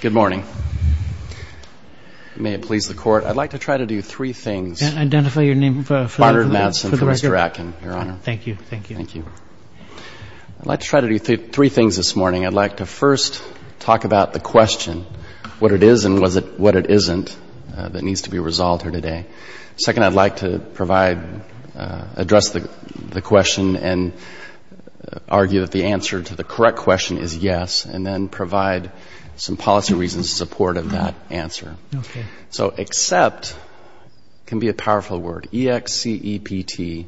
Good morning. May it please the Court, I'd like to try to do three things. Can I identify your name for the record? Conrad Madsen for Mr. Atkin, Your Honor. Thank you. Thank you. Thank you. I'd like to try to do three things this morning. I'd like to first talk about the question, what it is and what it isn't, that needs to be resolved here today. Second, I'd like to provide, address the question and argue that the answer to the correct question is yes, and then provide some policy reasons in support of that answer. Okay. So except can be a powerful word. E-X-C-E-P-T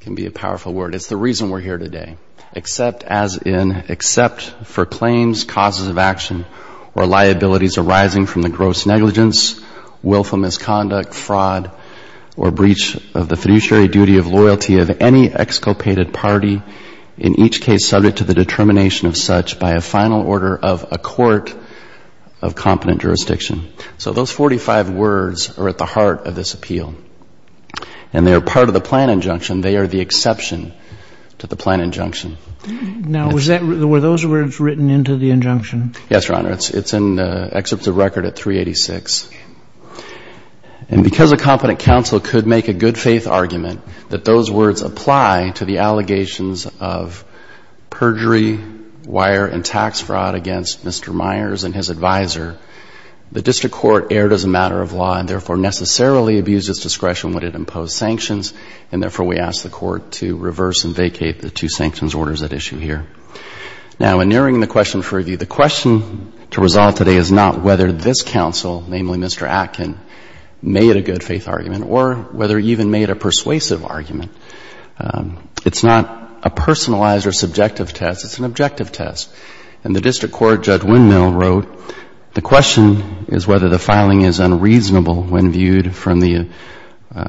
can be a powerful word. It's the reason we're here today. Except as in except for claims, causes of action, or liabilities arising from the gross negligence, willful misconduct, fraud, or breach of the fiduciary duty of loyalty of any exculpated party, in each case subject to the determination of such by a final order of a court of competent jurisdiction. So those 45 words are at the heart of this appeal. And they are part of the plan injunction. They are the exception to the plan injunction. Now, were those words written into the injunction? Yes, Your Honor. It's in the excerpt of the record at 386. And because a competent counsel could make a good-faith argument that those words apply to the allegations of perjury, wire, and tax fraud against Mr. Myers and his advisor, the district court erred as a matter of law and therefore necessarily abused its discretion when it imposed sanctions, and therefore we ask the court to reverse and vacate the two sanctions orders at issue here. Now, in nearing the question for review, the question to resolve today is not whether this counsel, namely Mr. Atkin, made a good-faith argument or whether he even made a persuasive argument. It's not a personalized or subjective test. It's an objective test. In the district court, Judge Windmill wrote the question is whether the filing is unreasonable when viewed from the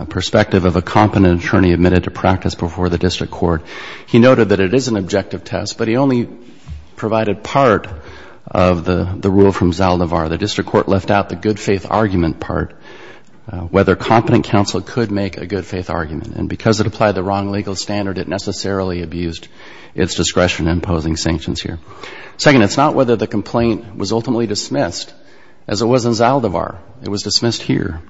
perspective of a competent attorney admitted to practice before the district court. He noted that it is an objective test, but he only provided part of the rule from Zaldivar. The district court left out the good-faith argument part, whether competent counsel could make a good-faith argument. And because it applied the wrong legal standard, it necessarily abused its discretion in imposing sanctions here. Second, it's not whether the complaint was ultimately dismissed as it was in Zaldivar. It was dismissed here.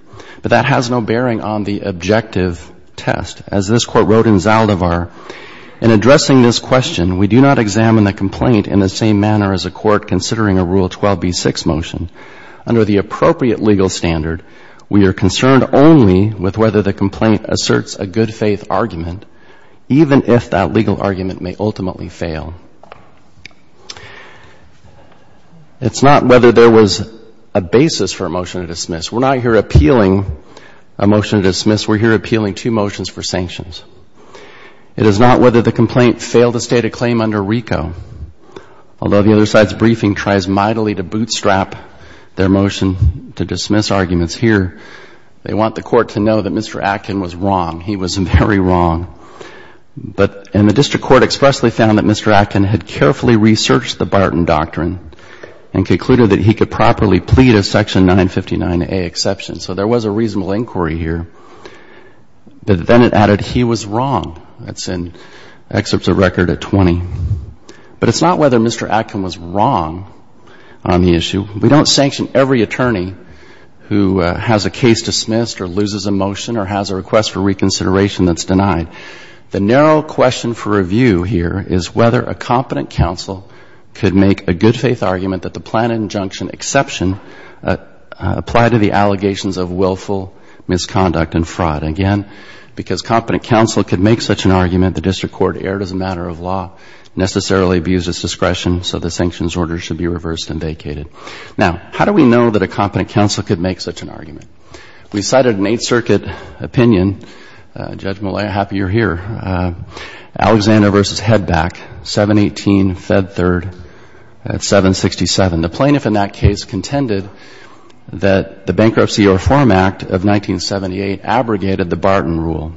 But that has no bearing on the objective test. As this Court wrote in Zaldivar, in addressing this question, we do not examine the complaint in the same manner as a court considering a Rule 12b-6 motion. Under the appropriate legal standard, we are concerned only with whether the complaint asserts a good-faith argument, even if that legal argument may ultimately fail. It's not whether there was a basis for a motion to dismiss. We're not here appealing a motion to dismiss. We're here appealing two motions for sanctions. It is not whether the complaint failed to state a claim under RICO. Although the other side's briefing tries mightily to bootstrap their motion to dismiss arguments here, they want the Court to know that Mr. Atkin was wrong. He was very wrong. But the district court expressly found that Mr. Atkin had carefully researched the Barton Doctrine and concluded that he could properly plead a Section 959A exception. So there was a reasonable inquiry here. But then it added he was wrong. That's in excerpts of record at 20. But it's not whether Mr. Atkin was wrong on the issue. We don't sanction every attorney who has a case dismissed or loses a motion or has a request for reconsideration that's denied. The narrow question for review here is whether a competent counsel could make a good-faith argument that the planned injunction exception apply to the allegations of willful misconduct and fraud. Again, because competent counsel could make such an argument, the district court erred as a matter of law, necessarily abused its discretion, so the sanctions order should be reversed and vacated. Now, how do we know that a competent counsel could make such an argument? We cited an Eighth Circuit opinion. Judge Millett, I'm happy you're here. Alexander v. Hedback, 718 Fed Third at 767. The plaintiff in that case contended that the Bankruptcy Reform Act of 1978 abrogated the Barton rule,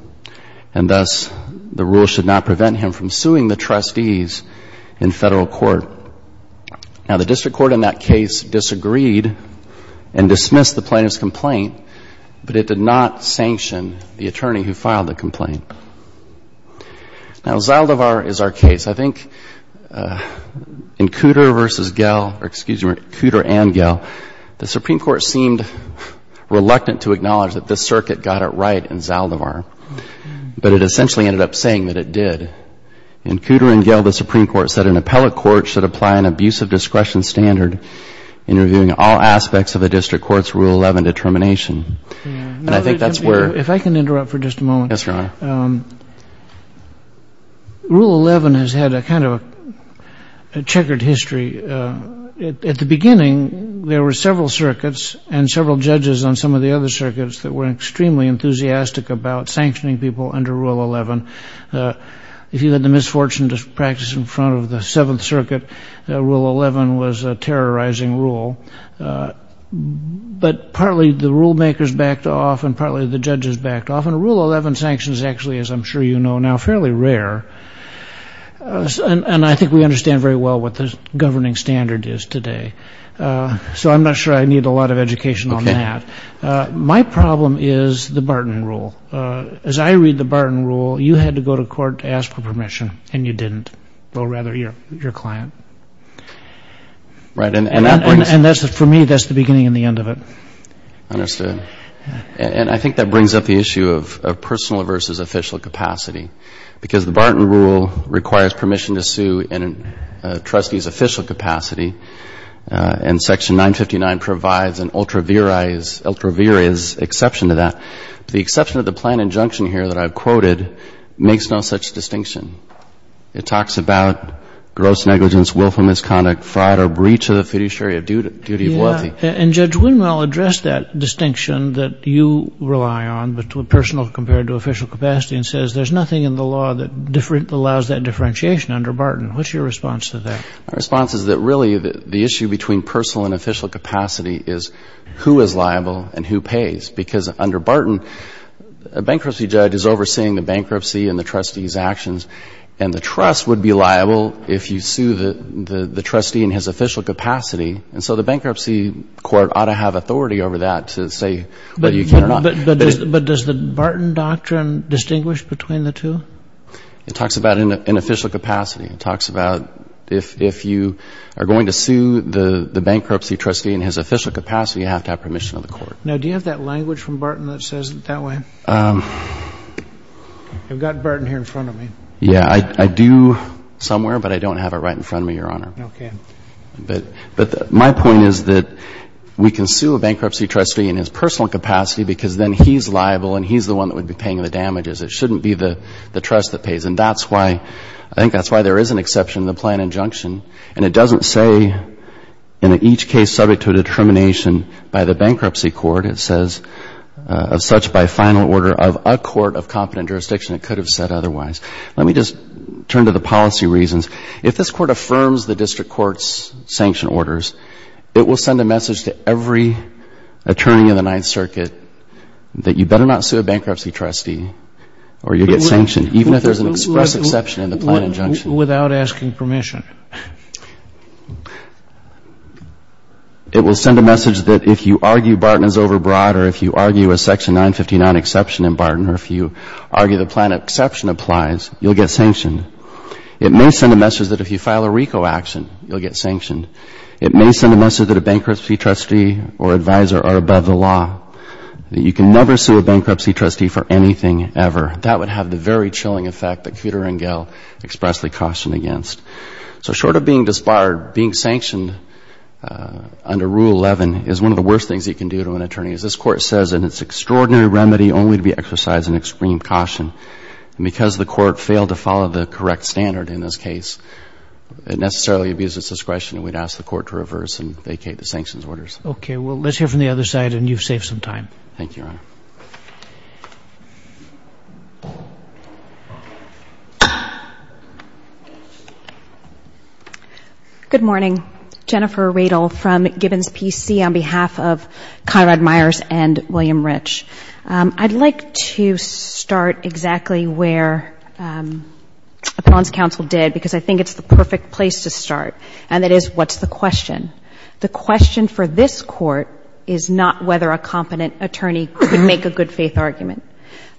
and thus the rule should not prevent him from suing the trustees in Federal court. Now, the district court in that case disagreed and dismissed the plaintiff's complaint, but it did not sanction the attorney who filed the complaint. Now, Zaldivar is our case. I think in Cooter v. Gell, or excuse me, Cooter and Gell, the Supreme Court seemed reluctant to acknowledge that this circuit got it right in Zaldivar, but it essentially ended up saying that it did. In Cooter and Gell, the Supreme Court said an appellate court should apply an abusive discretion standard in reviewing all aspects of a district court's Rule 11 determination. And I think that's where... If I can interrupt for just a moment. Yes, Your Honor. Rule 11 has had a kind of a checkered history. At the beginning, there were several circuits and several judges on some of the other circuits that were extremely enthusiastic about sanctioning people under Rule 11. If you had the misfortune to practice in front of the Seventh Circuit, Rule 11 was a terrorizing rule. But partly the rulemakers backed off and partly the judges backed off, and Rule 11 sanctions actually, as I'm sure you know now, fairly rare. And I think we understand very well what the governing standard is today. So I'm not sure I need a lot of education on that. My problem is the Barton Rule. As I read the Barton Rule, you had to go to court to ask for permission, and you didn't. Or rather, your client. Right. And for me, that's the beginning and the end of it. Understood. And I think that brings up the issue of personal versus official capacity. Because the Barton Rule requires permission to sue in a trustee's official capacity, and Section 959 provides an ultra viris exception to that. The exception to the plan injunction here that I've quoted makes no such distinction. It talks about gross negligence, willful misconduct, fraud or breach of the fiduciary duty of loyalty. And Judge Winmel addressed that distinction that you rely on, personal compared to official capacity, and says there's nothing in the law that allows that differentiation under Barton. What's your response to that? My response is that really the issue between personal and official capacity is who is liable and who pays. Because under Barton, a bankruptcy judge is overseeing the bankruptcy and the trustee's actions, and the trust would be liable if you sue the trustee in his official capacity. And so the bankruptcy court ought to have authority over that to say whether you can or not. But does the Barton doctrine distinguish between the two? It talks about in official capacity. It talks about if you are going to sue the bankruptcy trustee in his official capacity, you have to have permission of the court. Now, do you have that language from Barton that says it that way? You've got Barton here in front of me. Yeah. I do somewhere, but I don't have it right in front of me, Your Honor. Okay. But my point is that we can sue a bankruptcy trustee in his personal capacity because then he's liable and he's the one that would be paying the damages. It shouldn't be the trust that pays. And that's why I think that's why there is an exception to the plan injunction. And it doesn't say in each case subject to a determination by the bankruptcy court. It says of such by final order of a court of competent jurisdiction, it could have said otherwise. Let me just turn to the policy reasons. If this court affirms the district court's sanction orders, it will send a message to every attorney in the Ninth Circuit that you better not sue a bankruptcy trustee or you'll get sanctioned, even if there's an express exception in the plan injunction. Without asking permission. It will send a message that if you argue Barton is overbroad or if you argue a section 959 exception in Barton or if you argue the plan exception applies, you'll get sanctioned. It may send a message that if you file a RICO action, you'll get sanctioned. It may send a message that a bankruptcy trustee or advisor are above the law, that you can never sue a bankruptcy trustee for anything ever. That would have the very chilling effect that Kuter and Gehl expressly cautioned against. So short of being disbarred, being sanctioned under Rule 11 is one of the worst things you can do to an attorney. As this court says in its extraordinary remedy, only to be exercised in extreme caution. And because the court failed to follow the correct standard in this case, it necessarily abused its discretion and we'd ask the court to reverse and vacate the sanctions orders. Okay. Well, let's hear from the other side, and you've saved some time. Thank you, Your Honor. Good morning. Jennifer Radel from Gibbons PC on behalf of Conrad Myers and William Rich. I'd like to start exactly where Appellant's counsel did because I think it's the perfect place to start, and that is what's the question? The question for this court is not whether a competent attorney could make a good faith argument.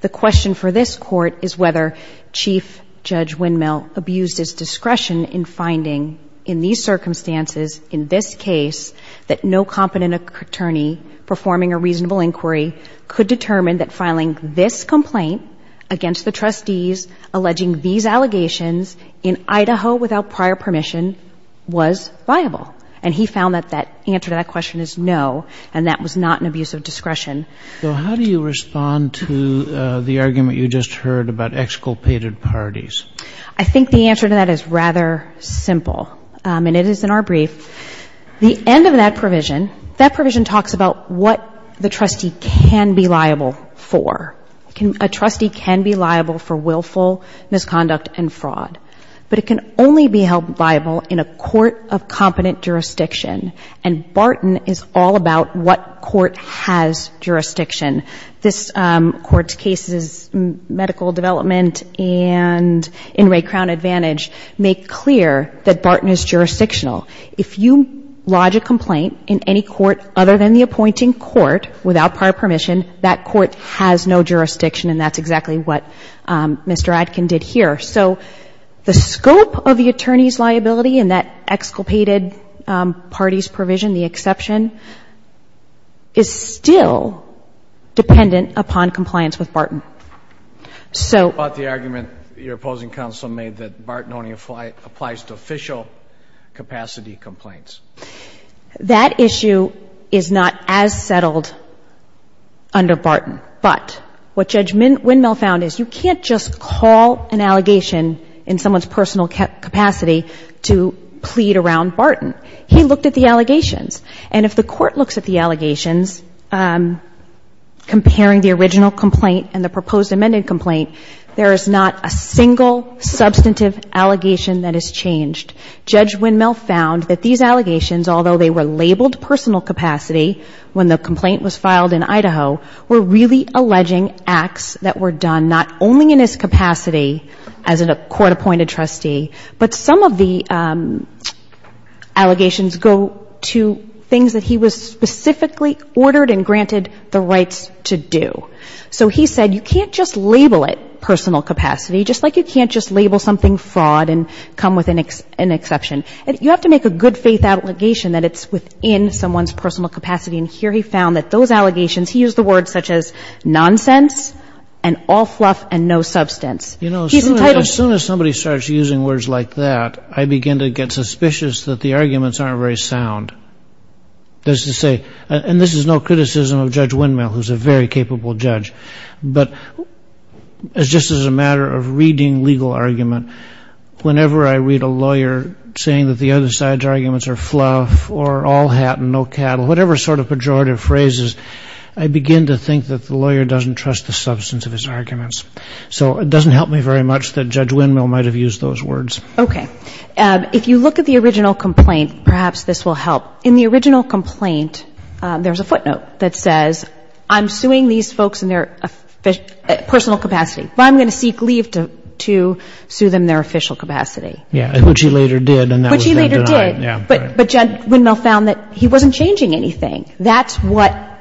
The question for this court is whether Chief Judge Windmill abused his discretion in finding in these circumstances, in this case, that no competent attorney performing a reasonable inquiry could determine that filing this complaint against the trustees alleging these allegations in Idaho without prior permission was viable. And he found that that answer to that question is no, and that was not an abuse of discretion. So how do you respond to the argument you just heard about exculpated parties? I think the answer to that is rather simple, and it is in our brief. The end of that provision, that provision talks about what the trustee can be liable for. A trustee can be liable for willful misconduct and fraud, but it can only be held liable in a court of competent jurisdiction, and Barton is all about what court has jurisdiction. This Court's cases, medical development and in Ray Crown Advantage, make clear that Barton is jurisdictional. If you lodge a complaint in any court other than the appointing court without prior permission, that court has no jurisdiction, and that's exactly what Mr. Adkin did here. So the scope of the attorney's liability in that exculpated parties provision, the exception, is still dependent upon compliance with Barton. So the argument your opposing counsel made that Barton only applies to official capacity complaints. That issue is not as settled under Barton. But what Judge Windmill found is you can't just call an allegation in someone's personal capacity to plead around Barton. He looked at the allegations. And if the Court looks at the allegations, comparing the original complaint and the proposed amended complaint, there is not a single substantive allegation that is changed. Judge Windmill found that these allegations, although they were labeled personal capacity when the complaint was filed in Idaho, were really alleging acts that were done not only in his capacity as a court-appointed trustee, but some of the allegations go to things that he was specifically ordered and granted the rights to do. So he said you can't just label it personal capacity, just like you can't just label something fraud and come with an exception. You have to make a good-faith allegation that it's within someone's personal capacity. And here he found that those allegations, he used the words such as nonsense and all fluff and no substance. He's entitled to do that. You know, as soon as somebody starts using words like that, I begin to get suspicious that the arguments aren't very sound. That is to say, and this is no criticism of Judge Windmill, who is a very capable judge. But just as a matter of reading legal argument, whenever I read a lawyer saying that the other side's arguments are fluff or all hat and no cattle, whatever sort of pejorative phrases, I begin to think that the lawyer doesn't trust the substance of his arguments. So it doesn't help me very much that Judge Windmill might have used those words. Okay. If you look at the original complaint, perhaps this will help. In the original complaint, there's a footnote that says, I'm suing these folks in their personal capacity, but I'm going to seek leave to sue them in their official capacity. Yeah, which he later did, and that was then denied. Which he later did. But Judge Windmill found that he wasn't changing anything. That's what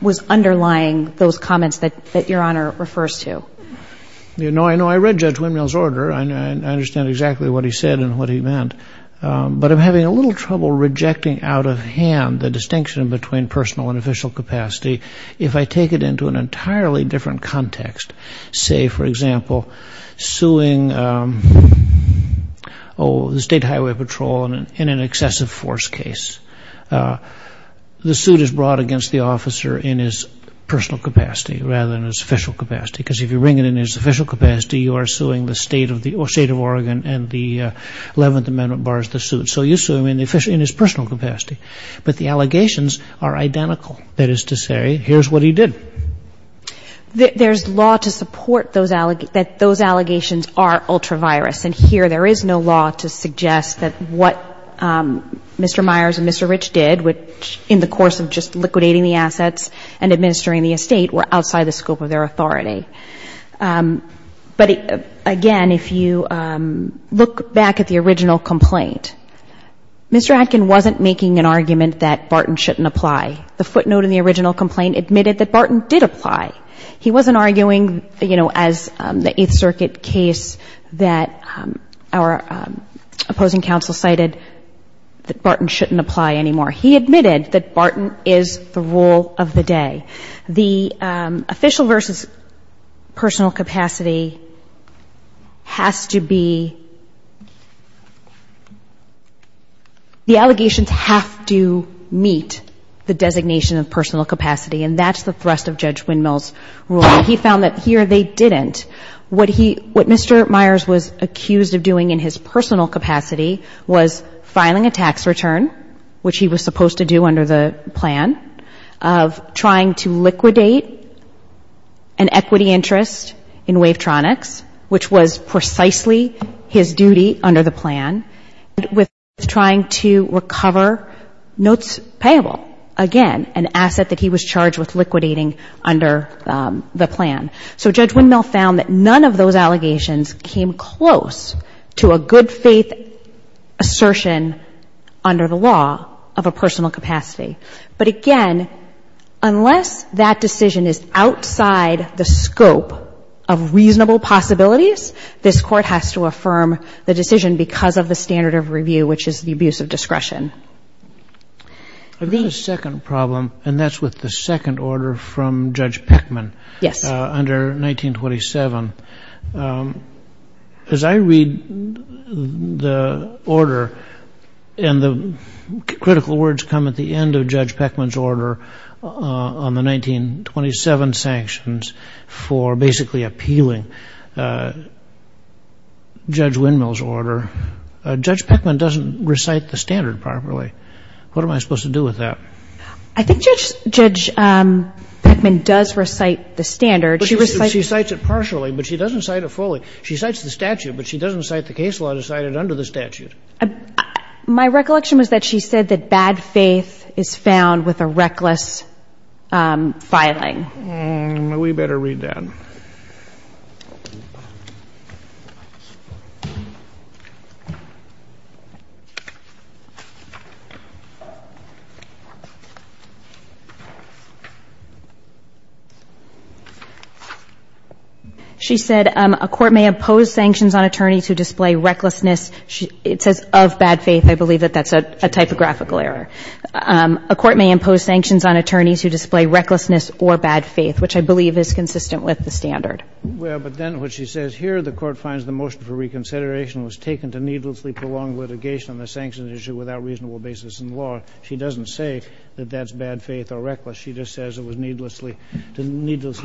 was underlying those comments that Your Honor refers to. You know, I know I read Judge Windmill's order, and I understand exactly what he said and what he meant. But I'm having a little trouble rejecting out of hand the distinction between personal and official capacity if I take it into an entirely different context. Say, for example, suing the State Highway Patrol in an excessive force case. The suit is brought against the officer in his personal capacity rather than his official capacity, because if you bring it in his official capacity, you are suing the State of Oregon, and the Eleventh Amendment bars the suit. So you sue him in his personal capacity. But the allegations are identical. That is to say, here's what he did. There's law to support that those allegations are ultra-virus, and here there is no law to suggest that what Mr. Myers and Mr. Rich did, which in the course of just liquidating the assets and administering the estate, were outside the scope of their authority. But again, if you look back at the original complaint, Mr. Atkin wasn't making an argument that Barton shouldn't apply. The footnote in the original complaint admitted that Barton did apply. He wasn't arguing, you know, as the Eighth Circuit case, that our opposing counsel cited that Barton shouldn't apply anymore. He admitted that Barton is the rule of the day. The official versus personal capacity has to be the allegations have to meet the designation of personal capacity, and that's the thrust of Judge Windmill's ruling. He found that here they didn't. What Mr. Myers was accused of doing in his personal capacity was filing a tax return, which he was supposed to do under the plan, of trying to liquidate an equity interest in Wavetronics, which was precisely his duty under the plan, with trying to recover notes payable, again, an asset that he was charged with liquidating under the plan. So Judge Windmill found that none of those allegations came close to a good faith assertion under the law of a personal capacity. But, again, unless that decision is outside the scope of reasonable possibilities, this Court has to affirm the decision because of the standard of review, which is the abuse of discretion. I've got a second problem, and that's with the second order from Judge Peckman. Yes. Under 1927, as I read the order, and the critical words come at the end of Judge Peckman's order on the 1927 sanctions for basically appealing Judge Windmill's order, Judge Peckman doesn't recite the standard properly. What am I supposed to do with that? I think Judge Peckman does recite the standard. She recites it partially, but she doesn't cite it fully. She cites the statute, but she doesn't cite the case law to cite it under the statute. My recollection was that she said that bad faith is found with a reckless filing. We better read that. She said, a court may impose sanctions on attorneys who display recklessness. It says of bad faith. I believe that that's a typographical error. A court may impose sanctions on attorneys who display recklessness or bad faith, Well, but then what she says here, the Court finds the motion for reconsideration was taken to needlessly prolong litigation on the sanctions issue without reasonable basis in law. She doesn't say that that's bad faith or reckless. She just says it was needlessly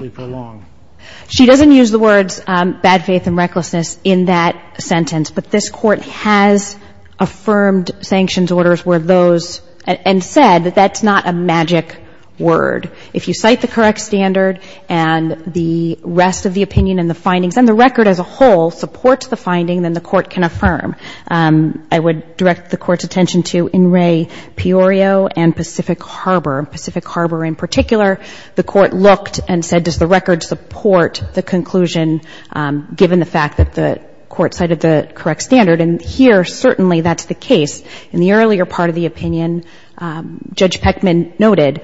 prolonged. She doesn't use the words bad faith and recklessness in that sentence, but this Court has affirmed sanctions orders were those and said that that's not a magic word. If you cite the correct standard and the rest of the opinion and the findings and the record as a whole supports the finding, then the Court can affirm. I would direct the Court's attention to In Re Piorio and Pacific Harbor. Pacific Harbor in particular, the Court looked and said, does the record support the conclusion, given the fact that the Court cited the correct standard? And here, certainly, that's the case. In the earlier part of the opinion, Judge Peckman noted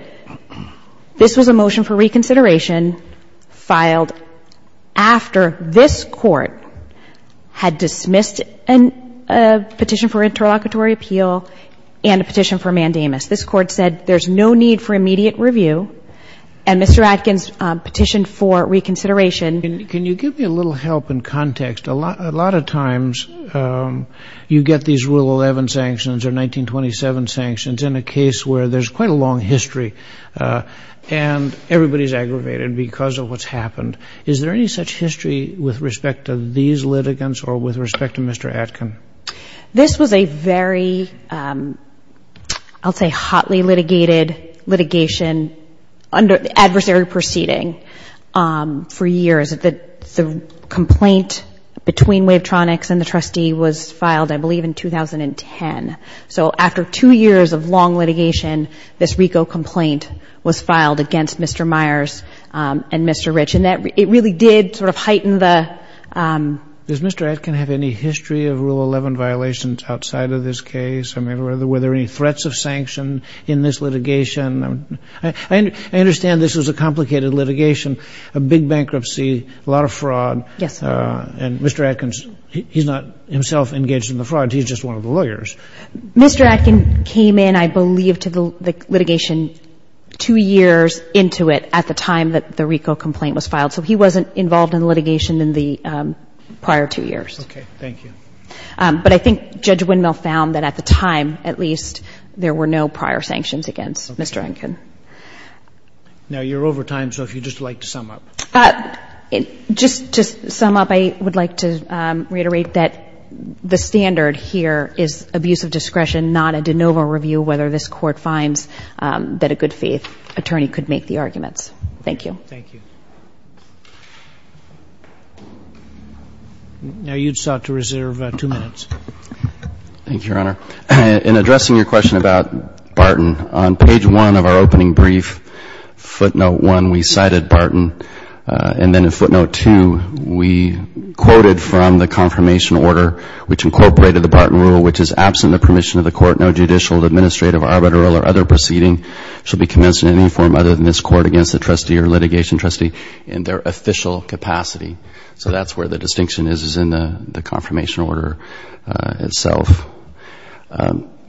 this was a motion for reconsideration filed after this Court had dismissed a petition for interlocutory appeal and a petition for mandamus. This Court said there's no need for immediate review, and Mr. Atkins petitioned for reconsideration. Can you give me a little help in context? A lot of times you get these Rule 11 sanctions or 1927 sanctions in a case where there's quite a long history and everybody's aggravated because of what's happened. Is there any such history with respect to these litigants or with respect to Mr. Atkins? This was a very, I'll say, hotly litigated litigation under adversary proceeding for years. The complaint between Wavetronics and the trustee was filed, I believe, in 2010. So after two years of long litigation, this RICO complaint was filed against Mr. Myers and Mr. Rich. And it really did sort of heighten the — Does Mr. Atkins have any history of Rule 11 violations outside of this case? I mean, were there any threats of sanction in this litigation? I understand this was a complicated litigation, a big bankruptcy, a lot of fraud. Yes. And Mr. Atkins, he's not himself engaged in the fraud. He's just one of the lawyers. Mr. Atkins came in, I believe, to the litigation two years into it at the time that the RICO complaint was filed. So he wasn't involved in the litigation in the prior two years. Okay. Thank you. But I think Judge Windmill found that at the time, at least, there were no prior sanctions against Mr. Atkins. Okay. Now, you're over time, so if you'd just like to sum up. Just to sum up, I would like to reiterate that the standard here is abuse of discretion, not a de novo review, whether this Court finds that a good faith attorney could make the arguments. Thank you. Thank you. Now, you'd start to reserve two minutes. Thank you, Your Honor. In addressing your question about Barton, on page one of our opening brief, footnote one, we cited Barton. And then in footnote two, we quoted from the confirmation order which incorporated the Barton rule, which is absent the permission of the Court, no judicial, administrative, arbitral, or other proceeding shall be commenced in any form other than this Court against the trustee or litigation. Trustee in their official capacity. So that's where the distinction is, is in the confirmation order itself.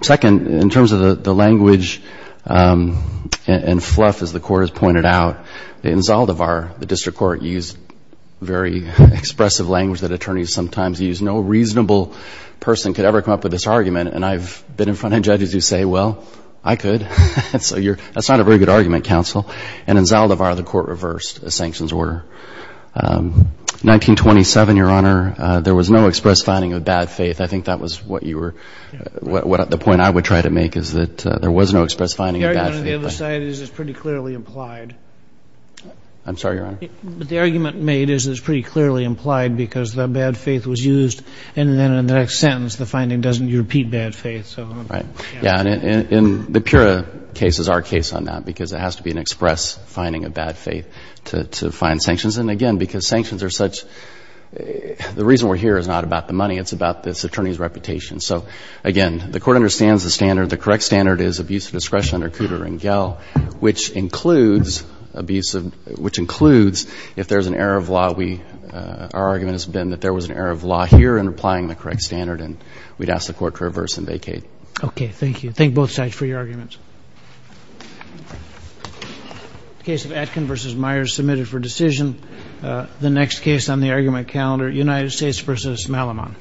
Second, in terms of the language and fluff, as the Court has pointed out, in Zaldivar, the district court used very expressive language that attorneys sometimes use. No reasonable person could ever come up with this argument. And I've been in front of judges who say, well, I could. That's not a very good argument, counsel. And in Zaldivar, the Court reversed a sanctions order. 1927, Your Honor, there was no express finding of bad faith. I think that was what you were – the point I would try to make is that there was no express finding of bad faith. The argument on the other side is it's pretty clearly implied. I'm sorry, Your Honor. But the argument made is it's pretty clearly implied because the bad faith was used. And then in the next sentence, the finding doesn't repeat bad faith. Right. Yeah. And the Pura case is our case on that because it has to be an express finding of bad faith to find sanctions. And, again, because sanctions are such – the reason we're here is not about the money. It's about this attorney's reputation. So, again, the Court understands the standard. The correct standard is abuse of discretion under Cooter and Gehl, which includes abuse of – which includes if there's an error of law, we – our argument has been that there was an error of law here in applying the correct standard, and we'd ask the Court to reverse and vacate. Okay. Thank you. Thank both sides for your arguments. The case of Atkin v. Myers submitted for decision. The next case on the argument calendar, United States v. Malamon.